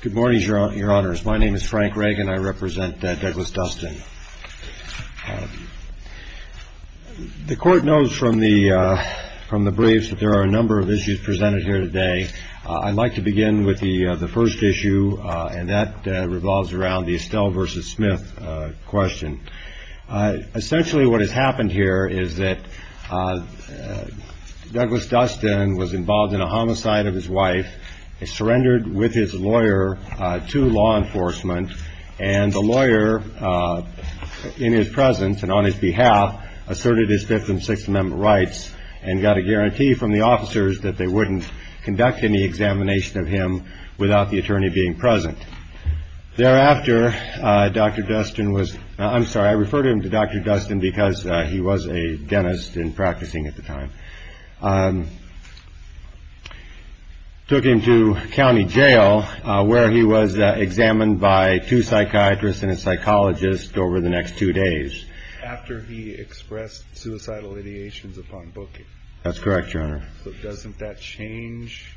Good morning, Your Honors. My name is Frank Reagan. I represent Douglas Dustin. The Court knows from the briefs that there are a number of issues presented here today. I'd like to begin with the first issue, and that revolves around the Estelle v. Smith question. Essentially, what has happened here is that Douglas Dustin was involved in a homicide of his wife. He surrendered with his lawyer to law enforcement. And the lawyer, in his presence and on his behalf, asserted his Fifth and Sixth Amendment rights and got a guarantee from the officers that they wouldn't conduct any examination of him without the attorney being present. Thereafter, Dr. Dustin was – I'm sorry, I refer to him as Dr. Dustin because he was a dentist and practicing at the time – took him to county jail where he was examined by two psychiatrists and a psychologist over the next two days. After he expressed suicidal ideations upon booking. That's correct, Your Honor. Doesn't that change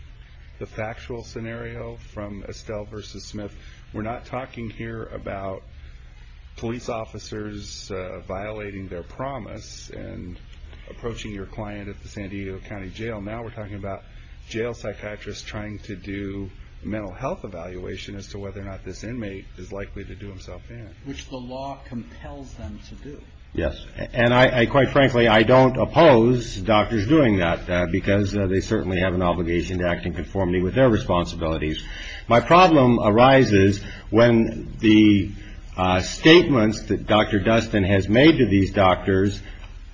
the factual scenario from Estelle v. Smith? We're not talking here about police officers violating their promise and approaching your client at the San Diego County Jail. Now we're talking about jail psychiatrists trying to do mental health evaluation as to whether or not this inmate is likely to do himself in. Which the law compels them to do. Yes. And quite frankly, I don't oppose doctors doing that because they certainly have an obligation to act in conformity with their responsibilities. My problem arises when the statements that Dr. Dustin has made to these doctors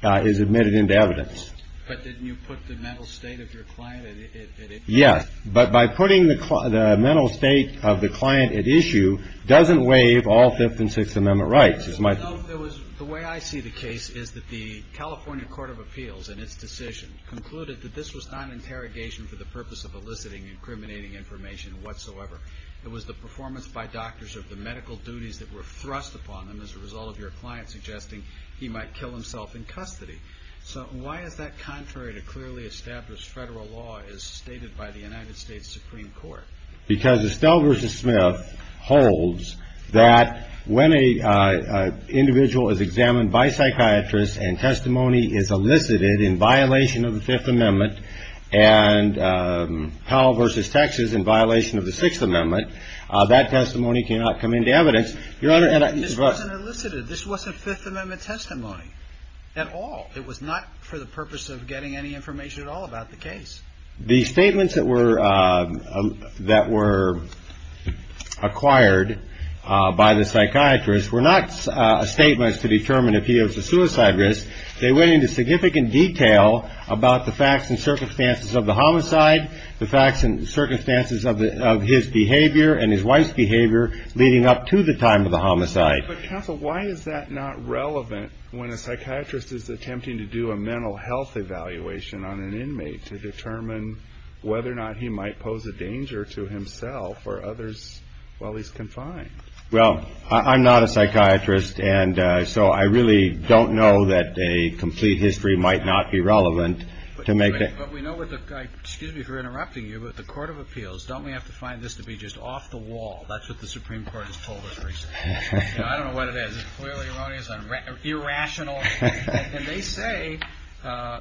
is admitted into evidence. But didn't you put the mental state of your client at issue? Yes. But by putting the mental state of the client at issue doesn't waive all Fifth and Sixth Amendment rights. The way I see the case is that the California Court of Appeals, in its decision, concluded that this was not an interrogation for the purpose of eliciting and incriminating information whatsoever. It was the performance by doctors of the medical duties that were thrust upon them as a result of your client suggesting he might kill himself in custody. So why is that contrary to clearly established federal law as stated by the United States Supreme Court? Because Estelle v. Smith holds that when an individual is examined by psychiatrists and testimony is elicited in violation of the Fifth Amendment and Powell v. Texas in violation of the Sixth Amendment, that testimony cannot come into evidence. Your Honor, this wasn't elicited. This wasn't Fifth Amendment testimony at all. It was not for the purpose of getting any information at all about the case. The statements that were acquired by the psychiatrist were not statements to determine if he was a suicide risk. They went into significant detail about the facts and circumstances of the homicide, the facts and circumstances of his behavior and his wife's behavior leading up to the time of the homicide. But counsel, why is that not relevant when a psychiatrist is attempting to do a mental health evaluation on an inmate to determine whether or not he might pose a danger to himself or others while he's confined? Well, I'm not a psychiatrist, and so I really don't know that a complete history might not be relevant to make it. Excuse me for interrupting you, but the Court of Appeals, don't we have to find this to be just off the wall? That's what the Supreme Court has told us recently. I don't know what it is. It's clearly erroneous and irrational, and they say,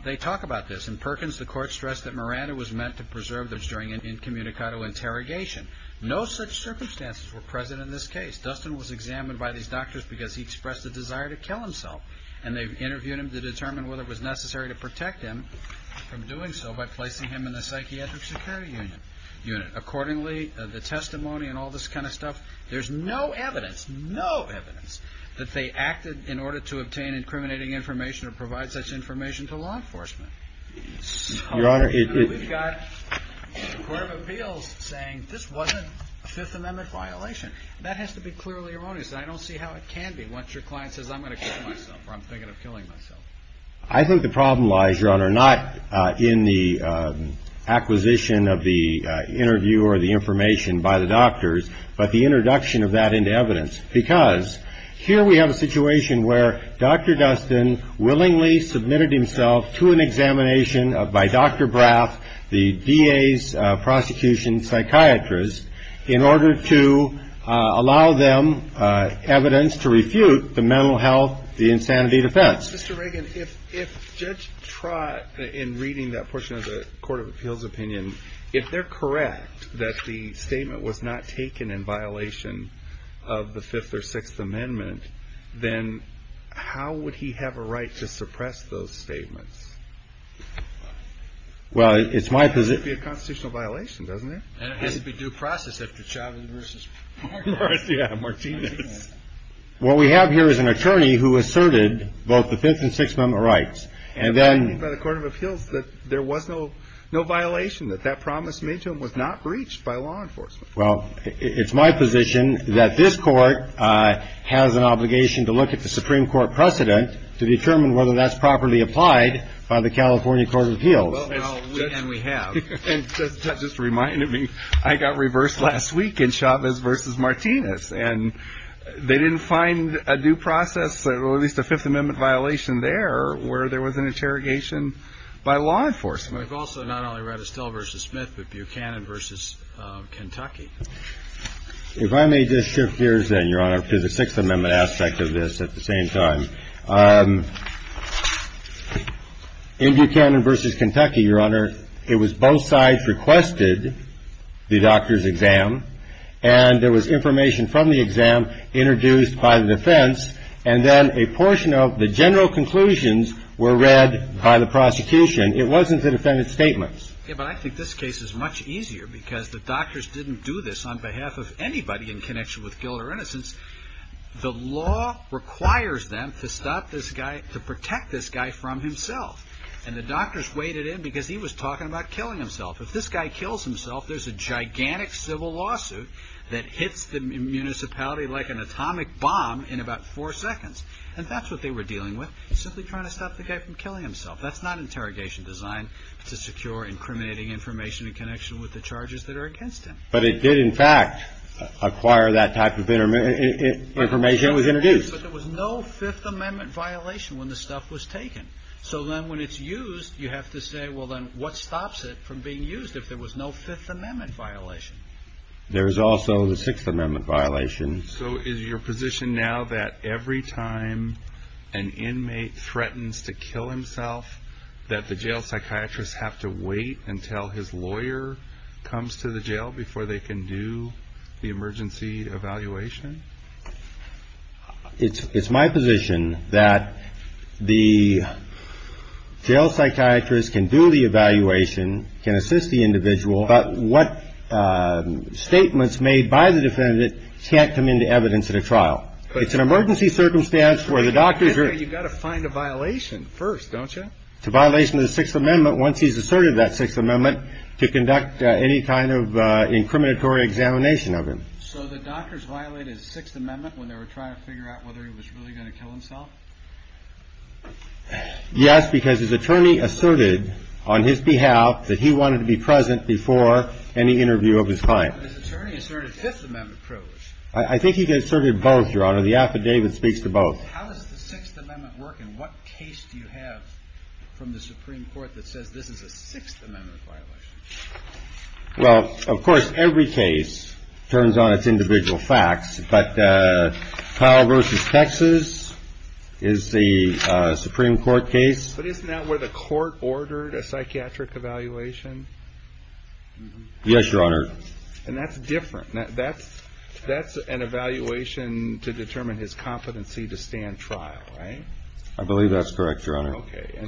they talk about this. In Perkins, the Court stressed that Miranda was meant to preserve this during an incommunicado interrogation. No such circumstances were present in this case. Dustin was examined by these doctors because he expressed a desire to kill himself, and they've interviewed him to determine whether it was necessary to protect him from doing so by placing him in the psychiatric security unit. Accordingly, the testimony and all this kind of stuff, there's no evidence, no evidence, that they acted in order to obtain incriminating information or provide such information to law enforcement. So we've got the Court of Appeals saying this wasn't a Fifth Amendment violation. That has to be clearly erroneous, and I don't see how it can be. Once your client says, I'm going to kill myself, or I'm thinking of killing myself. I think the problem lies, Your Honor, not in the acquisition of the interview or the information by the doctors, but the introduction of that into evidence, because here we have a situation where Dr. Dustin willingly submitted himself to an examination by Dr. Braff, the DA's prosecution psychiatrist, in order to allow them evidence to refute the mental health, the insanity defense. Mr. Reagan, if Judge Trott, in reading that portion of the Court of Appeals opinion, if they're correct that the statement was not taken in violation of the Fifth or Sixth Amendment, then how would he have a right to suppress those statements? Well, it's my position. It would be a constitutional violation, doesn't it? And it has to be due process after Chavez v. Martinez. Yeah, Martinez. What we have here is an attorney who asserted both the Fifth and Sixth Amendment rights. And then by the Court of Appeals that there was no violation, that that promise made to him was not breached by law enforcement. Well, it's my position that this Court has an obligation to look at the Supreme Court precedent to determine whether that's properly applied by the California Court of Appeals. And we have. And Judge Trott just reminded me, I got reversed last week in Chavez v. Martinez. And they didn't find a due process, or at least a Fifth Amendment violation there where there was an interrogation by law enforcement. We've also not only read Estelle v. Smith, but Buchanan v. Kentucky. If I may just shift gears then, Your Honor, to the Sixth Amendment aspect of this at the same time. In Buchanan v. Kentucky, Your Honor, it was both sides requested the doctor's exam. And there was information from the exam introduced by the defense. And then a portion of the general conclusions were read by the prosecution. It wasn't the defendant's statements. Yeah, but I think this case is much easier because the doctors didn't do this on behalf of anybody in connection with guilt or innocence. The law requires them to stop this guy, to protect this guy from himself. And the doctors waited in because he was talking about killing himself. If this guy kills himself, there's a gigantic civil lawsuit that hits the municipality like an atomic bomb in about four seconds. And that's what they were dealing with, simply trying to stop the guy from killing himself. That's not interrogation design. It's a secure, incriminating information in connection with the charges that are against him. But it did, in fact, acquire that type of information that was introduced. But there was no Fifth Amendment violation when the stuff was taken. So then when it's used, you have to say, well, then what stops it from being used if there was no Fifth Amendment violation? There was also the Sixth Amendment violation. So is your position now that every time an inmate threatens to kill himself, that the jail psychiatrist have to wait until his lawyer comes to the jail before they can do the emergency evaluation? It's my position that the jail psychiatrist can do the evaluation, can assist the individual. But what statements made by the defendant can't come into evidence at a trial. It's an emergency circumstance where the doctors are. You've got to find a violation first, don't you? It's a violation of the Sixth Amendment. Once he's asserted that Sixth Amendment to conduct any kind of incriminatory examination of him. So the doctors violated the Sixth Amendment when they were trying to figure out whether he was really going to kill himself? Yes, because his attorney asserted on his behalf that he wanted to be present before any interview of his client. His attorney asserted Fifth Amendment privilege. I think he asserted both, Your Honor. The affidavit speaks to both. How does the Sixth Amendment work and what case do you have from the Supreme Court that says this is a Sixth Amendment violation? Well, of course, every case turns on its individual facts. But Kyle versus Texas is the Supreme Court case. But isn't that where the court ordered a psychiatric evaluation? Yes, Your Honor. And that's different. That's an evaluation to determine his competency to stand trial, right? I believe that's correct, Your Honor. Okay.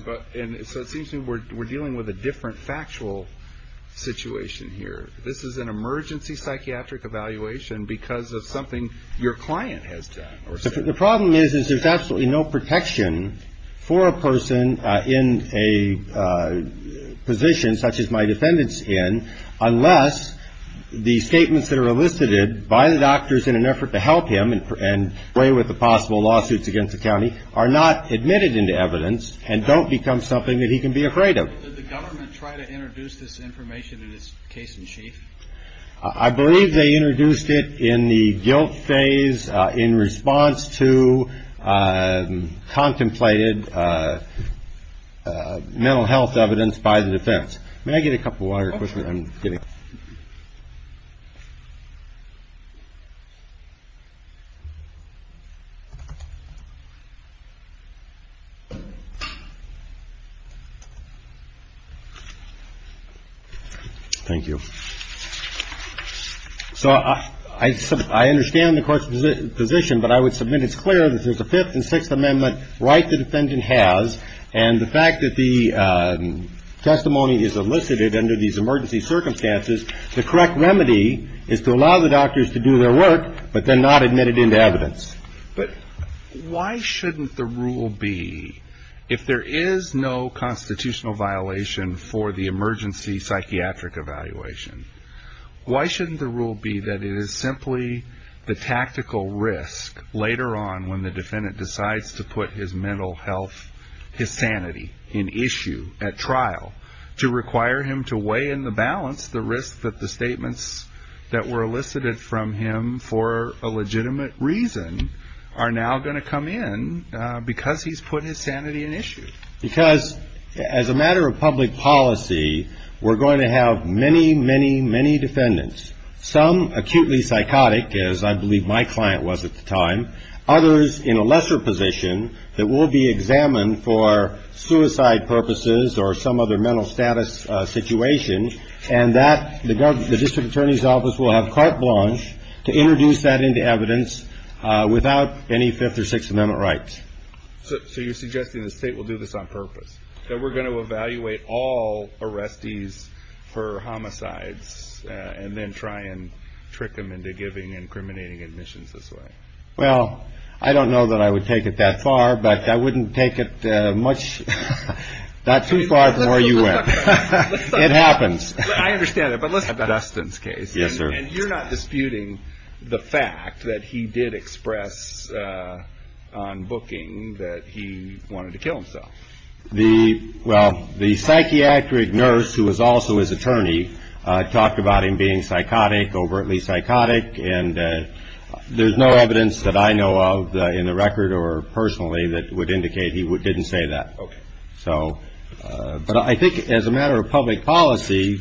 So it seems to me we're dealing with a different factual situation here. This is an emergency psychiatric evaluation because of something your client has done. The problem is there's absolutely no protection for a person in a position such as my defendant's in unless the statements that are elicited by the doctors in an effort to help him and play with the possible lawsuits against the county are not admitted into evidence and don't become something that he can be afraid of. Did the government try to introduce this information in this case in chief? I believe they introduced it in the guilt phase in response to contemplated mental health evidence by the defense. May I get a cup of water real quick? Okay. I'm getting it. Thank you. So I understand the court's position, but I would submit it's clear that there's a Fifth and Sixth Amendment right the defendant has. And the fact that the testimony is elicited under these emergency circumstances, the correct remedy is to allow the doctors to do their work but then not admit it into evidence. But why shouldn't the rule be if there is no constitutional violation for the emergency psychiatric evaluation, why shouldn't the rule be that it is simply the tactical risk later on when the defendant decides to put his mental health, his sanity in issue at trial to require him to weigh in the balance the risk that the statements that were elicited from him for a legitimate reason are now going to come in because he's put his sanity in issue? Because as a matter of public policy, we're going to have many, many, many defendants, some acutely psychotic, as I believe my client was at the time, others in a lesser position that will be examined for suicide purposes or some other mental status situation. And that the district attorney's office will have carte blanche to introduce that into evidence without any Fifth or Sixth Amendment rights. So you're suggesting the state will do this on purpose, that we're going to evaluate all arrestees for homicides and then try and trick them into giving incriminating admissions this way? Well, I don't know that I would take it that far, but I wouldn't take it much, not too far from where you went. It happens. I understand that. Yes, sir. And you're not disputing the fact that he did express on booking that he wanted to kill himself? Well, the psychiatric nurse, who was also his attorney, talked about him being psychotic, overtly psychotic, and there's no evidence that I know of in the record or personally that would indicate he didn't say that. So but I think as a matter of public policy,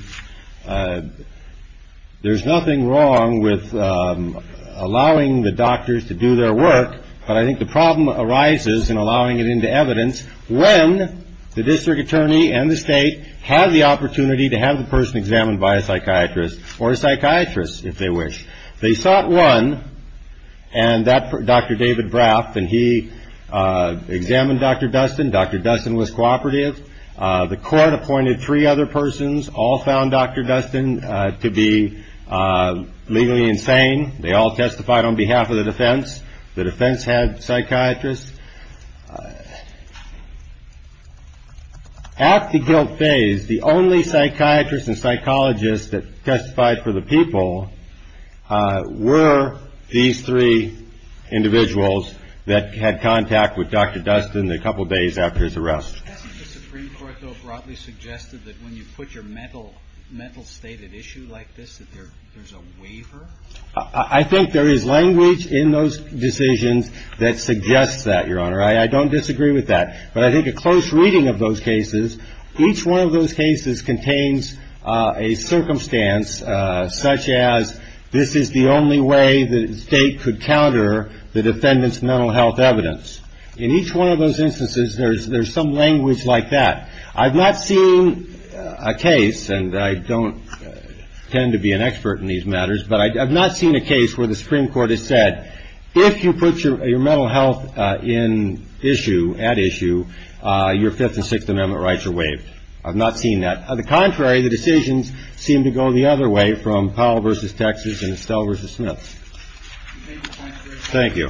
there's nothing wrong with allowing the doctors to do their work. But I think the problem arises in allowing it into evidence when the district attorney and the state have the opportunity to have the person examined by a psychiatrist or a psychiatrist, if they wish. They sought one, and that Dr. David Braff, and he examined Dr. Dustin. Dr. Dustin was cooperative. The court appointed three other persons, all found Dr. Dustin to be legally insane. They all testified on behalf of the defense. The defense had psychiatrists. At the guilt phase, the only psychiatrist and psychologist that testified for the people were these three individuals that had contact with Dr. Dustin a couple of days after his arrest. Hasn't the Supreme Court, though, broadly suggested that when you put your mental state at issue like this, that there's a waiver? I think there is language in those decisions that suggests that, Your Honor. I don't disagree with that, but I think a close reading of those cases, each one of those cases contains a circumstance such as this is the only way the state could counter the defendant's mental health evidence. In each one of those instances, there's there's some language like that. I've not seen a case, and I don't tend to be an expert in these matters, but I've not seen a case where the Supreme Court has said if you put your mental health at issue, your Fifth and Sixth Amendment rights are waived. I've not seen that. On the contrary, the decisions seem to go the other way from Powell v. Texas and Estelle v. Smith. Thank you.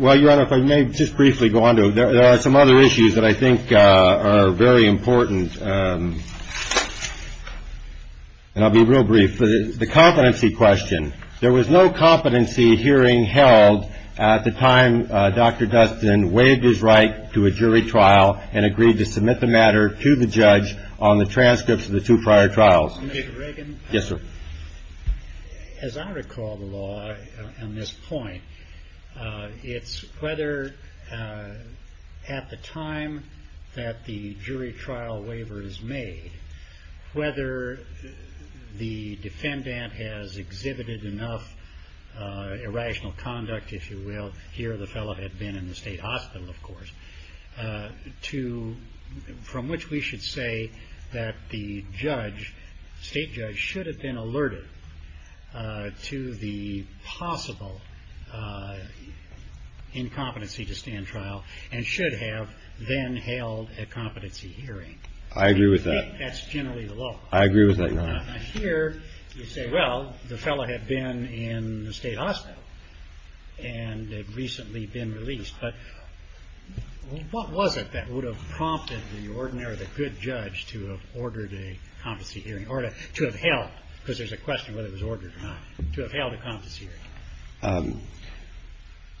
Well, Your Honor, if I may just briefly go on to it. There are some other issues that I think are very important, and I'll be real brief. The competency question. There was no competency hearing held at the time Dr. Dustin waived his right to a jury trial and agreed to submit the matter to the judge on the transcripts of the two prior trials. Yes, sir. As I recall the law on this point, it's whether at the time that the jury trial waiver is made, whether the defendant has exhibited enough irrational conduct, if you will, here the fellow had been in the state hospital, of course, from which we should say that the judge, state judge, should have been alerted to the possible incompetency to stand trial and should have then held a competency hearing. I agree with that. That's generally the law. I agree with that, Your Honor. Here you say, well, the fellow had been in the state hospital and had recently been released, but what was it that would have prompted the ordinary or the good judge to have ordered a competency hearing or to have held, because there's a question whether it was ordered or not, to have held a competency hearing?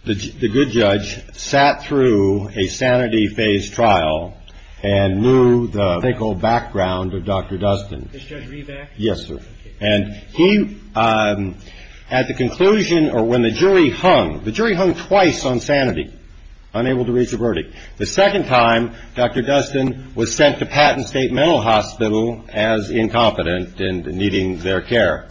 The good judge sat through a sanity phase trial and knew the thick old background of Dr. Dustin. Is Judge Reeve back? Yes, sir. And he, at the conclusion or when the jury hung, the jury hung twice on sanity, unable to reach a verdict. The second time, Dr. Dustin was sent to Patton State Mental Hospital as incompetent and needing their care.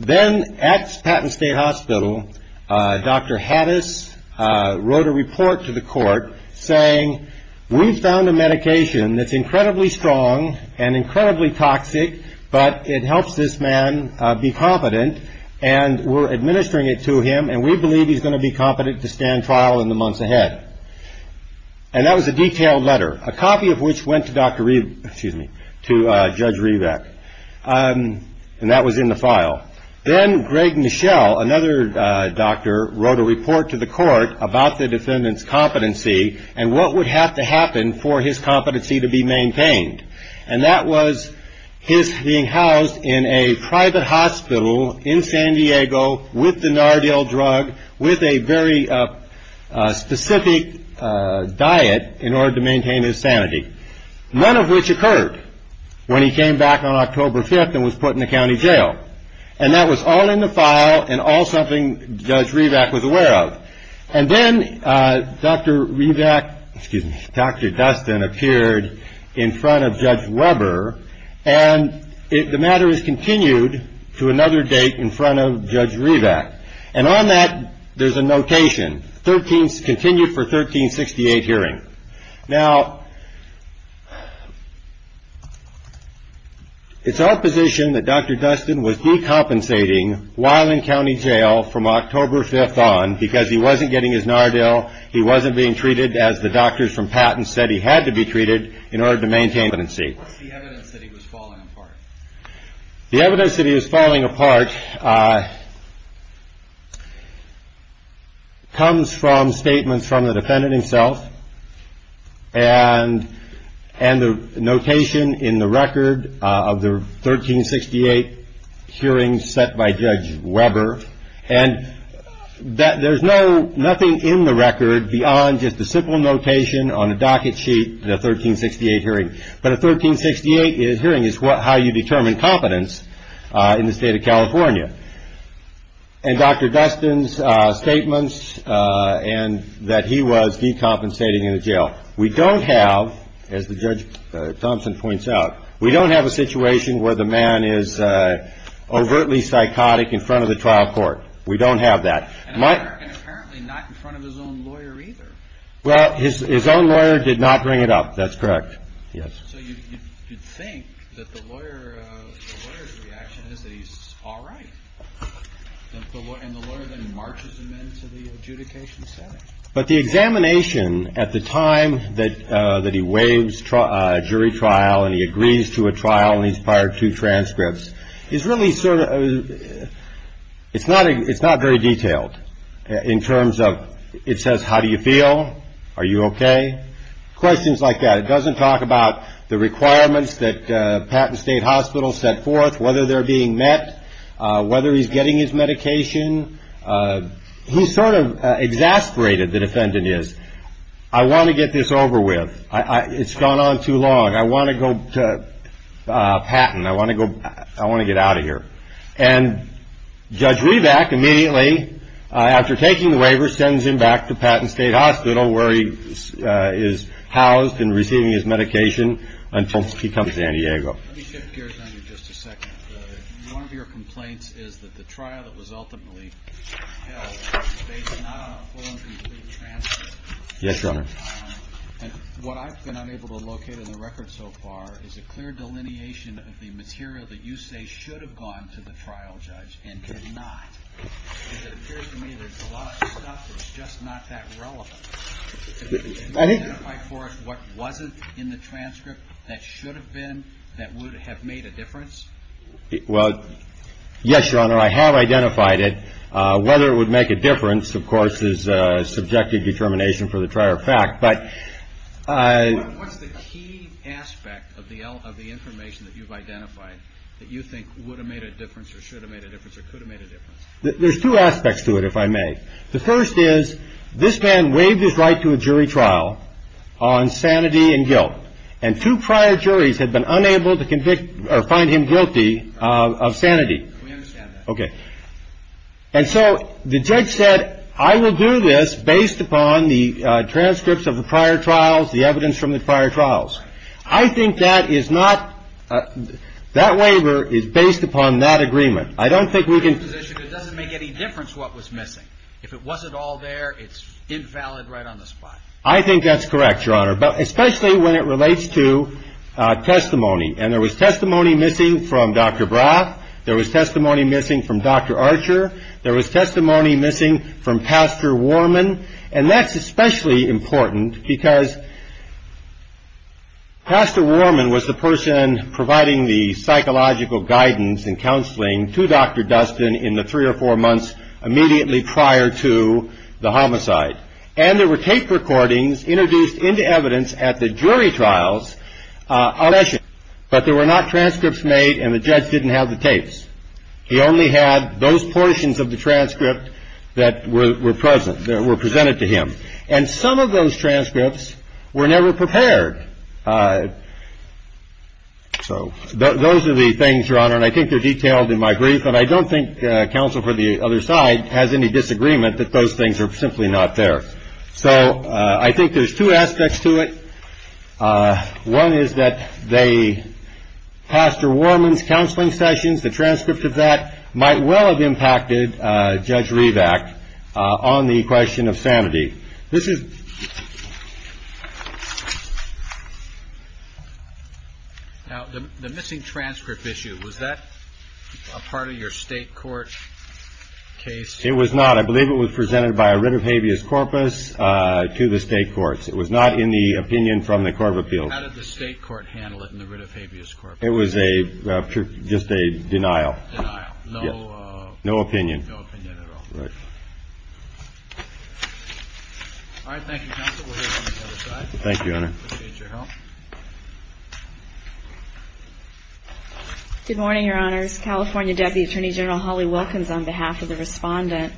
Then at Patton State Hospital, Dr. Hattis wrote a report to the court saying, we've found a medication that's incredibly strong and incredibly toxic, but it helps this man be competent and we're administering it to him and we believe he's going to be competent to stand trial in the months ahead. And that was a detailed letter, a copy of which went to Dr. Reeve, excuse me, to Judge Reeveck. And that was in the file. Then Greg Michel, another doctor, wrote a report to the court about the defendant's competency and what would have to happen for his competency to be maintained. And that was his being housed in a private hospital in San Diego with the Nardil drug, with a very specific diet in order to maintain his sanity, none of which occurred when he came back on October 5th and was put in the county jail. And that was all in the file and all something Judge Reeveck was aware of. And then Dr. Reeveck, excuse me, Dr. Dustin appeared in front of Judge Weber, and the matter is continued to another date in front of Judge Reeveck. And on that there's a notation, continued for 1368 hearing. Now, it's our position that Dr. Dustin was decompensating while in county jail from October 5th on because he wasn't getting his Nardil. He wasn't being treated as the doctors from Patton said he had to be treated in order to maintain competency. What's the evidence that he was falling apart? The evidence that he was falling apart comes from statements from the defendant himself and the notation in the record of the 1368 hearing set by Judge Weber. And there's nothing in the record beyond just a simple notation on a docket sheet in a 1368 hearing. But a 1368 hearing is how you determine competence in the state of California. And Dr. Dustin's statements and that he was decompensating in the jail. We don't have, as the Judge Thompson points out, we don't have a situation where the man is overtly psychotic in front of the trial court. We don't have that. And apparently not in front of his own lawyer either. Well, his own lawyer did not bring it up. That's correct. Yes. So you'd think that the lawyer's reaction is that he's all right. And the lawyer then marches him into the adjudication setting. But the examination at the time that he waives jury trial and he agrees to a trial and he's prior to transcripts is really sort of, it's not very detailed in terms of it says, how do you feel? Are you okay? Questions like that. It doesn't talk about the requirements that Patton State Hospital set forth, whether they're being met, whether he's getting his medication. He's sort of exasperated. The defendant is. I want to get this over with. It's gone on too long. I want to go to Patton. I want to go. I want to get out of here. And Judge Reback immediately, after taking the waiver, sends him back to Patton State Hospital where he is housed and receiving his medication until he comes to San Diego. Let me shift gears on you just a second. One of your complaints is that the trial that was ultimately held was based not on a full and complete transcript. Yes, Your Honor. And what I've been unable to locate in the record so far is a clear delineation of the material that you say should have gone to the trial judge and did not. It appears to me there's a lot of stuff that's just not that relevant. I think for what wasn't in the transcript, that should have been that would have made a difference. Well, yes, Your Honor, I have identified it. Whether it would make a difference, of course, is subjective determination for the prior fact. But what's the key aspect of the of the information that you've identified that you think would have made a difference or should have made a difference or could have made a difference? There's two aspects to it, if I may. The first is this man waived his right to a jury trial on sanity and guilt. And two prior juries had been unable to convict or find him guilty of sanity. We understand that. Okay. And so the judge said, I will do this based upon the transcripts of the prior trials, the evidence from the prior trials. I think that is not that waiver is based upon that agreement. It doesn't make any difference what was missing. If it wasn't all there, it's invalid right on the spot. I think that's correct, Your Honor, but especially when it relates to testimony. And there was testimony missing from Dr. Braff. There was testimony missing from Dr. Archer. There was testimony missing from Pastor Warman. And that's especially important because Pastor Warman was the person providing the psychological guidance and counseling to Dr. Dustin in the three or four months immediately prior to the homicide. And there were tape recordings introduced into evidence at the jury trials. But there were not transcripts made and the judge didn't have the tapes. He only had those portions of the transcript that were present, that were presented to him. And some of those transcripts were never prepared. So those are the things, Your Honor, and I think they're detailed in my brief. And I don't think counsel for the other side has any disagreement that those things are simply not there. So I think there's two aspects to it. One is that Pastor Warman's counseling sessions, the transcript of that, might well have impacted Judge Rivack on the question of sanity. Now, the missing transcript issue, was that a part of your state court case? It was not. I believe it was presented by a writ of habeas corpus to the state courts. It was not in the opinion from the court of appeals. How did the state court handle it in the writ of habeas corpus? It was just a denial. Denial. No opinion. No opinion at all. Right. All right. Thank you, counsel. We'll hear from the other side. Thank you, Your Honor. Appreciate your help. Good morning, Your Honors. California Deputy Attorney General Holly Wilkins on behalf of the respondent.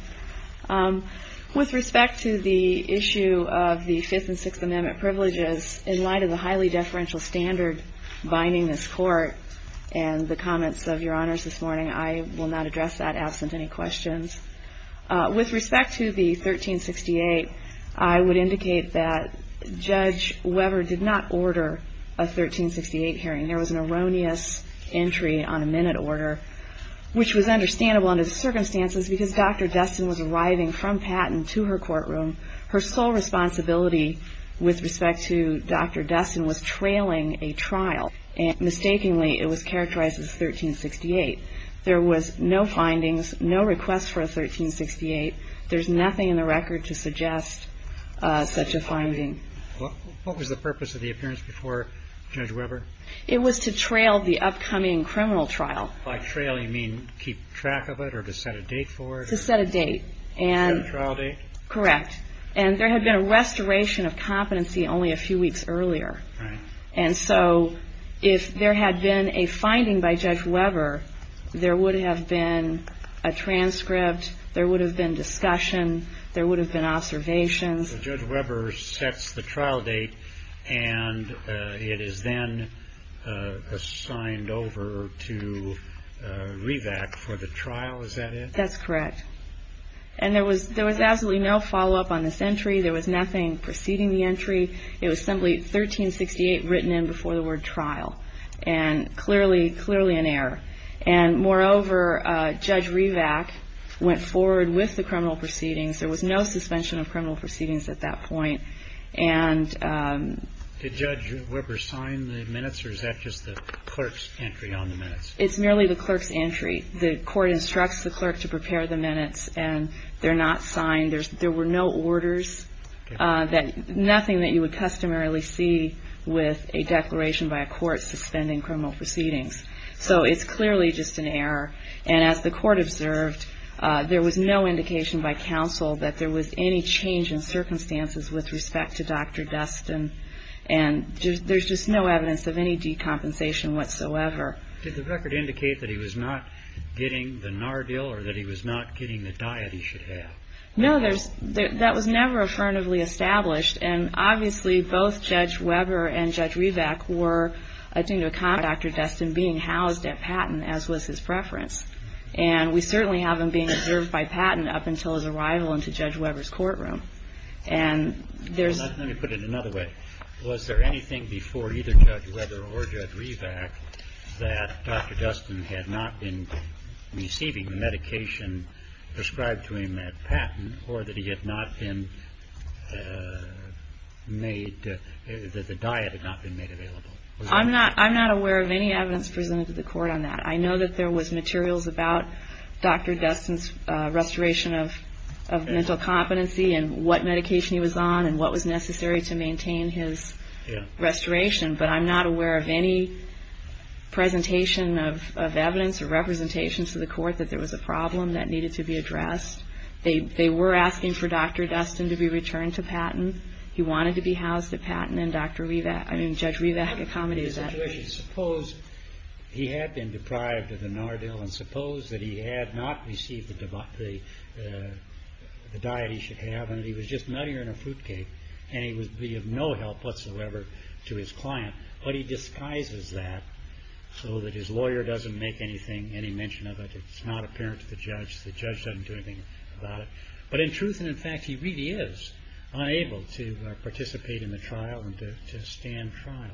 With respect to the issue of the Fifth and Sixth Amendment privileges, in light of the highly deferential standard binding this court, and the comments of Your Honors this morning, I will not address that absent any questions. With respect to the 1368, I would indicate that Judge Weber did not order a 1368 hearing. There was an erroneous entry on a minute order, which was understandable under the circumstances because Dr. Destin was arriving from Patton to her courtroom. Her sole responsibility with respect to Dr. Destin was trailing a trial, and mistakenly it was characterized as 1368. There was no findings, no request for a 1368. There's nothing in the record to suggest such a finding. What was the purpose of the appearance before Judge Weber? It was to trail the upcoming criminal trial. By trail, you mean keep track of it or to set a date for it? To set a date. To set a trial date? Correct. And there had been a restoration of competency only a few weeks earlier. Right. And so if there had been a finding by Judge Weber, there would have been a transcript, there would have been discussion, there would have been observations. So Judge Weber sets the trial date, and it is then assigned over to REVAC for the trial, is that it? That's correct. And there was absolutely no follow-up on this entry. There was nothing preceding the entry. It was simply 1368 written in before the word trial, and clearly, clearly an error. And moreover, Judge REVAC went forward with the criminal proceedings. There was no suspension of criminal proceedings at that point. Did Judge Weber sign the minutes, or is that just the clerk's entry on the minutes? It's merely the clerk's entry. The court instructs the clerk to prepare the minutes, and they're not signed. There were no orders, nothing that you would customarily see with a declaration by a court suspending criminal proceedings. So it's clearly just an error. And as the court observed, there was no indication by counsel that there was any change in circumstances with respect to Dr. Dustin, and there's just no evidence of any decompensation whatsoever. Did the record indicate that he was not getting the Nardil or that he was not getting the diet he should have? No, that was never affirmatively established, and obviously, both Judge Weber and Judge REVAC were, I think, to account for Dr. Dustin being housed at Patton, as was his preference. And we certainly have him being observed by Patton up until his arrival into Judge Weber's courtroom. And there's... Let me put it another way. Was there anything before either Judge Weber or Judge REVAC that Dr. Dustin had not been receiving the medication prescribed to him at Patton, or that he had not been made... that the diet had not been made available? I'm not aware of any evidence presented to the court on that. I know that there was materials about Dr. Dustin's restoration of mental competency and what medication he was on and what was necessary to maintain his restoration, but I'm not aware of any presentation of evidence or representation to the court that there was a problem that needed to be addressed. They were asking for Dr. Dustin to be returned to Patton. He wanted to be housed at Patton, and Judge REVAC accommodated that. Suppose he had been deprived of the Nardil, and suppose that he had not received the diet he should have, and he was just nuttier than a fruitcake, and he would be of no help whatsoever to his client, but he disguises that so that his lawyer doesn't make any mention of it. It's not apparent to the judge. The judge doesn't do anything about it. But in truth and in fact, he really is unable to participate in the trial and to stand trial.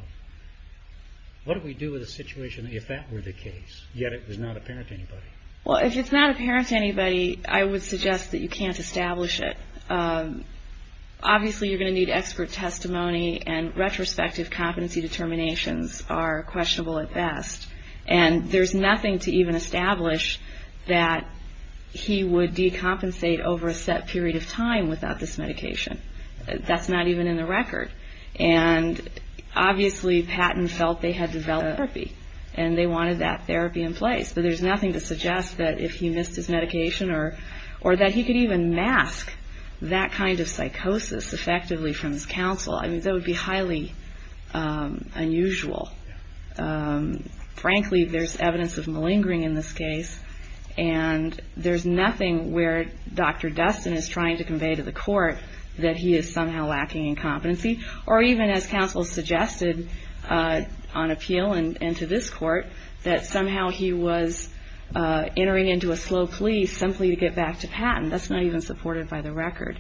What do we do with a situation if that were the case, yet it was not apparent to anybody? Well, if it's not apparent to anybody, I would suggest that you can't establish it. Obviously, you're going to need expert testimony, and retrospective competency determinations are questionable at best. And there's nothing to even establish that he would decompensate over a set period of time without this medication. That's not even in the record. And obviously, Patton felt they had developed therapy, and they wanted that therapy in place. But there's nothing to suggest that if he missed his medication, or that he could even mask that kind of psychosis effectively from his counsel. I mean, that would be highly unusual. Frankly, there's evidence of malingering in this case, and there's nothing where Dr. Destin is trying to convey to the court that he is somehow lacking in competency, or even as counsel suggested on appeal and to this court, that somehow he was entering into a slow plea simply to get back to Patton. That's not even supported by the record.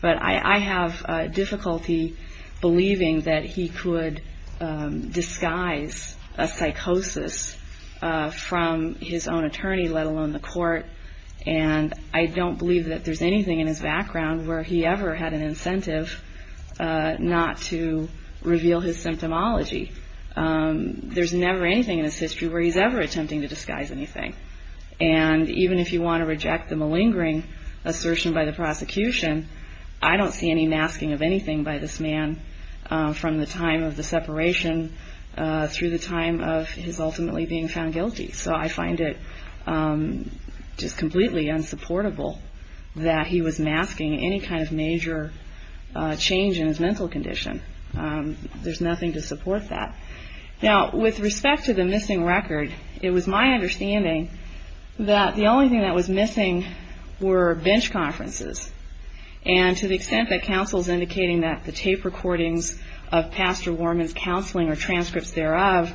But I have difficulty believing that he could disguise a psychosis from his own attorney, let alone the court. And I don't believe that there's anything in his background where he ever had an incentive not to reveal his symptomology. There's never anything in his history where he's ever attempting to disguise anything. And even if you want to reject the malingering assertion by the prosecution, I don't see any masking of anything by this man from the time of the separation through the time of his ultimately being found guilty. So I find it just completely unsupportable that he was masking any kind of major change in his mental condition. There's nothing to support that. Now, with respect to the missing record, it was my understanding that the only thing that was missing were bench conferences. And to the extent that counsel's indicating that the tape recordings of Pastor Warman's counseling or transcripts thereof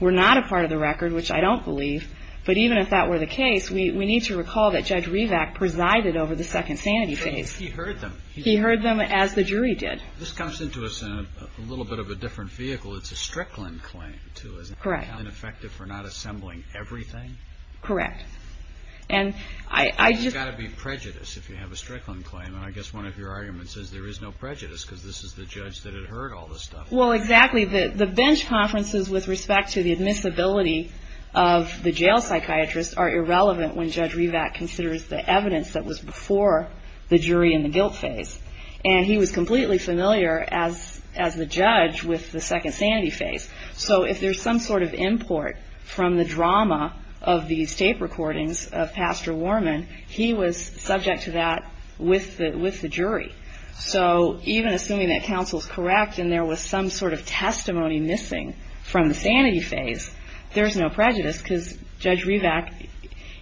were not a part of the record, which I don't believe, but even if that were the case, we need to recall that Judge Rivack presided over the second sanity phase. He heard them. He heard them as the jury did. This comes into us in a little bit of a different vehicle. It's a Strickland claim, too, isn't it? Correct. Counted ineffective for not assembling everything? Correct. And I just... It's got to be prejudice if you have a Strickland claim. And I guess one of your arguments is there is no prejudice because this is the judge that had heard all this stuff. Well, exactly. The bench conferences with respect to the admissibility of the jail psychiatrist are irrelevant when Judge Rivack considers the evidence that was before the jury in the guilt phase. And he was completely familiar as the judge with the second sanity phase. So if there's some sort of import from the drama of these tape recordings of Pastor Warman, he was subject to that with the jury. So even assuming that counsel's correct and there was some sort of testimony missing from the sanity phase, there's no prejudice because Judge Rivack,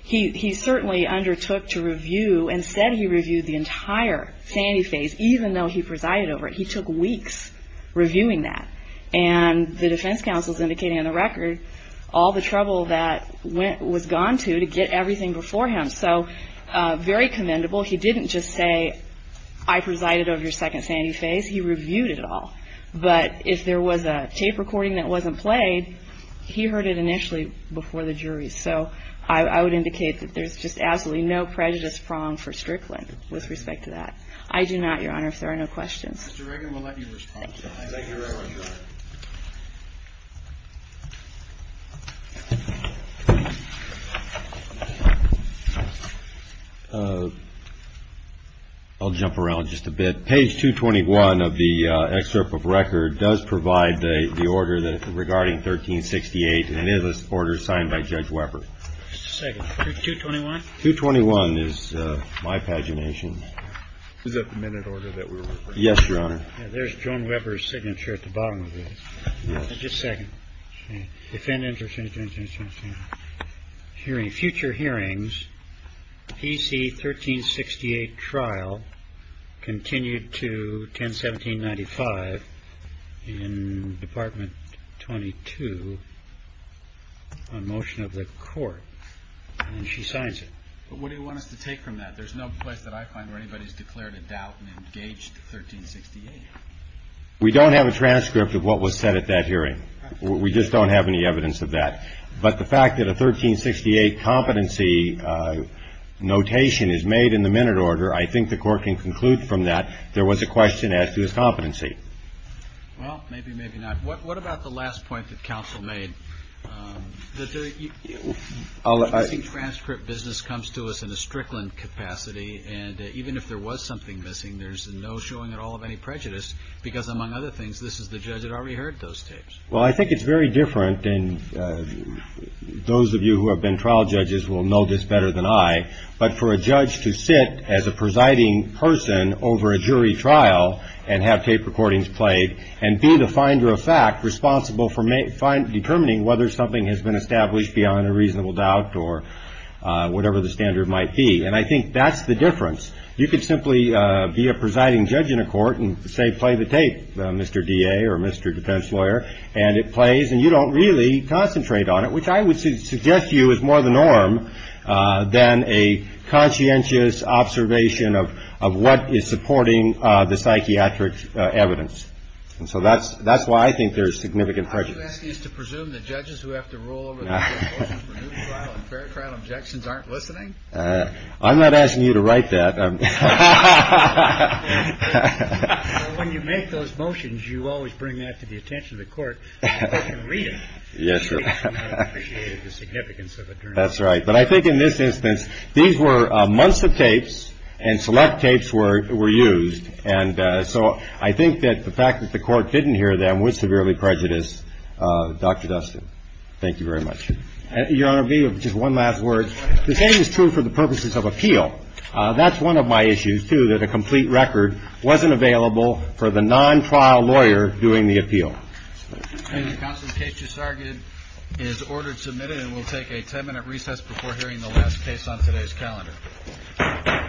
he certainly undertook to review and said he reviewed the entire sanity phase even though he presided over it. He took weeks reviewing that. And the defense counsel is indicating on the record all the trouble that was gone to to get everything before him. So very commendable. He didn't just say, I presided over your second sanity phase. He reviewed it all. But if there was a tape recording that wasn't played, he heard it initially before the jury. So I would indicate that there's just absolutely no prejudice prong for Strickland with respect to that. I do not, Your Honor, if there are no questions. Mr. Reagan, we'll let you respond to that. Thank you, Your Honor. I'll jump around just a bit. Page 221 of the excerpt of record does provide the order regarding 1368 and it is an order signed by Judge Weber. Just a second. 221? 221 is my pagination. Is that the minute order that we were looking for? Yes, Your Honor. There's Joan Weber's signature at the bottom of this. Yes. Just a second. We don't have a transcript of what was said at that hearing. We just don't have any evidence of that. But the fact that a 1368 competency notation is made in the minute order, I think the court can conclude from that there was a question as to his competency. Well, maybe, maybe not. What about the last point that counsel made? The transcript business comes to us in a Strickland capacity and even if there was something missing, there's no showing at all of any prejudice because, among other things, this is the judge that already heard those tapes. Well, I think it's very different and those of you who have been trial judges will know this better than I, but for a judge to sit as a presiding person over a jury trial and have tape recordings played and be the finder of fact responsible for determining whether something has been established beyond a reasonable doubt or whatever the standard might be. And I think that's the difference. You could simply be a presiding judge in a court and say, play the tape, Mr. D.A. or Mr. Defense lawyer, and it plays and you don't really concentrate on it, which I would suggest to you is more the norm than a conscientious observation of what is supporting the psychiatric evidence. And so that's that's why I think there is significant prejudice. I'm not asking you to write that. When you make those motions, you always bring that to the attention of the court. Read it. Yes, sir. The significance of it. That's right. But I think in this instance, these were months of tapes and select tapes were were used. And so I think that the fact that the court didn't hear them was severely prejudiced. Dr. Dustin, thank you very much. Your Honor, just one last word. The same is true for the purposes of appeal. That's one of my issues, too, that a complete record wasn't available for the non-trial lawyer doing the appeal. Counsel's case just started is ordered submitted and will take a ten minute recess before hearing the last case on today's calendar.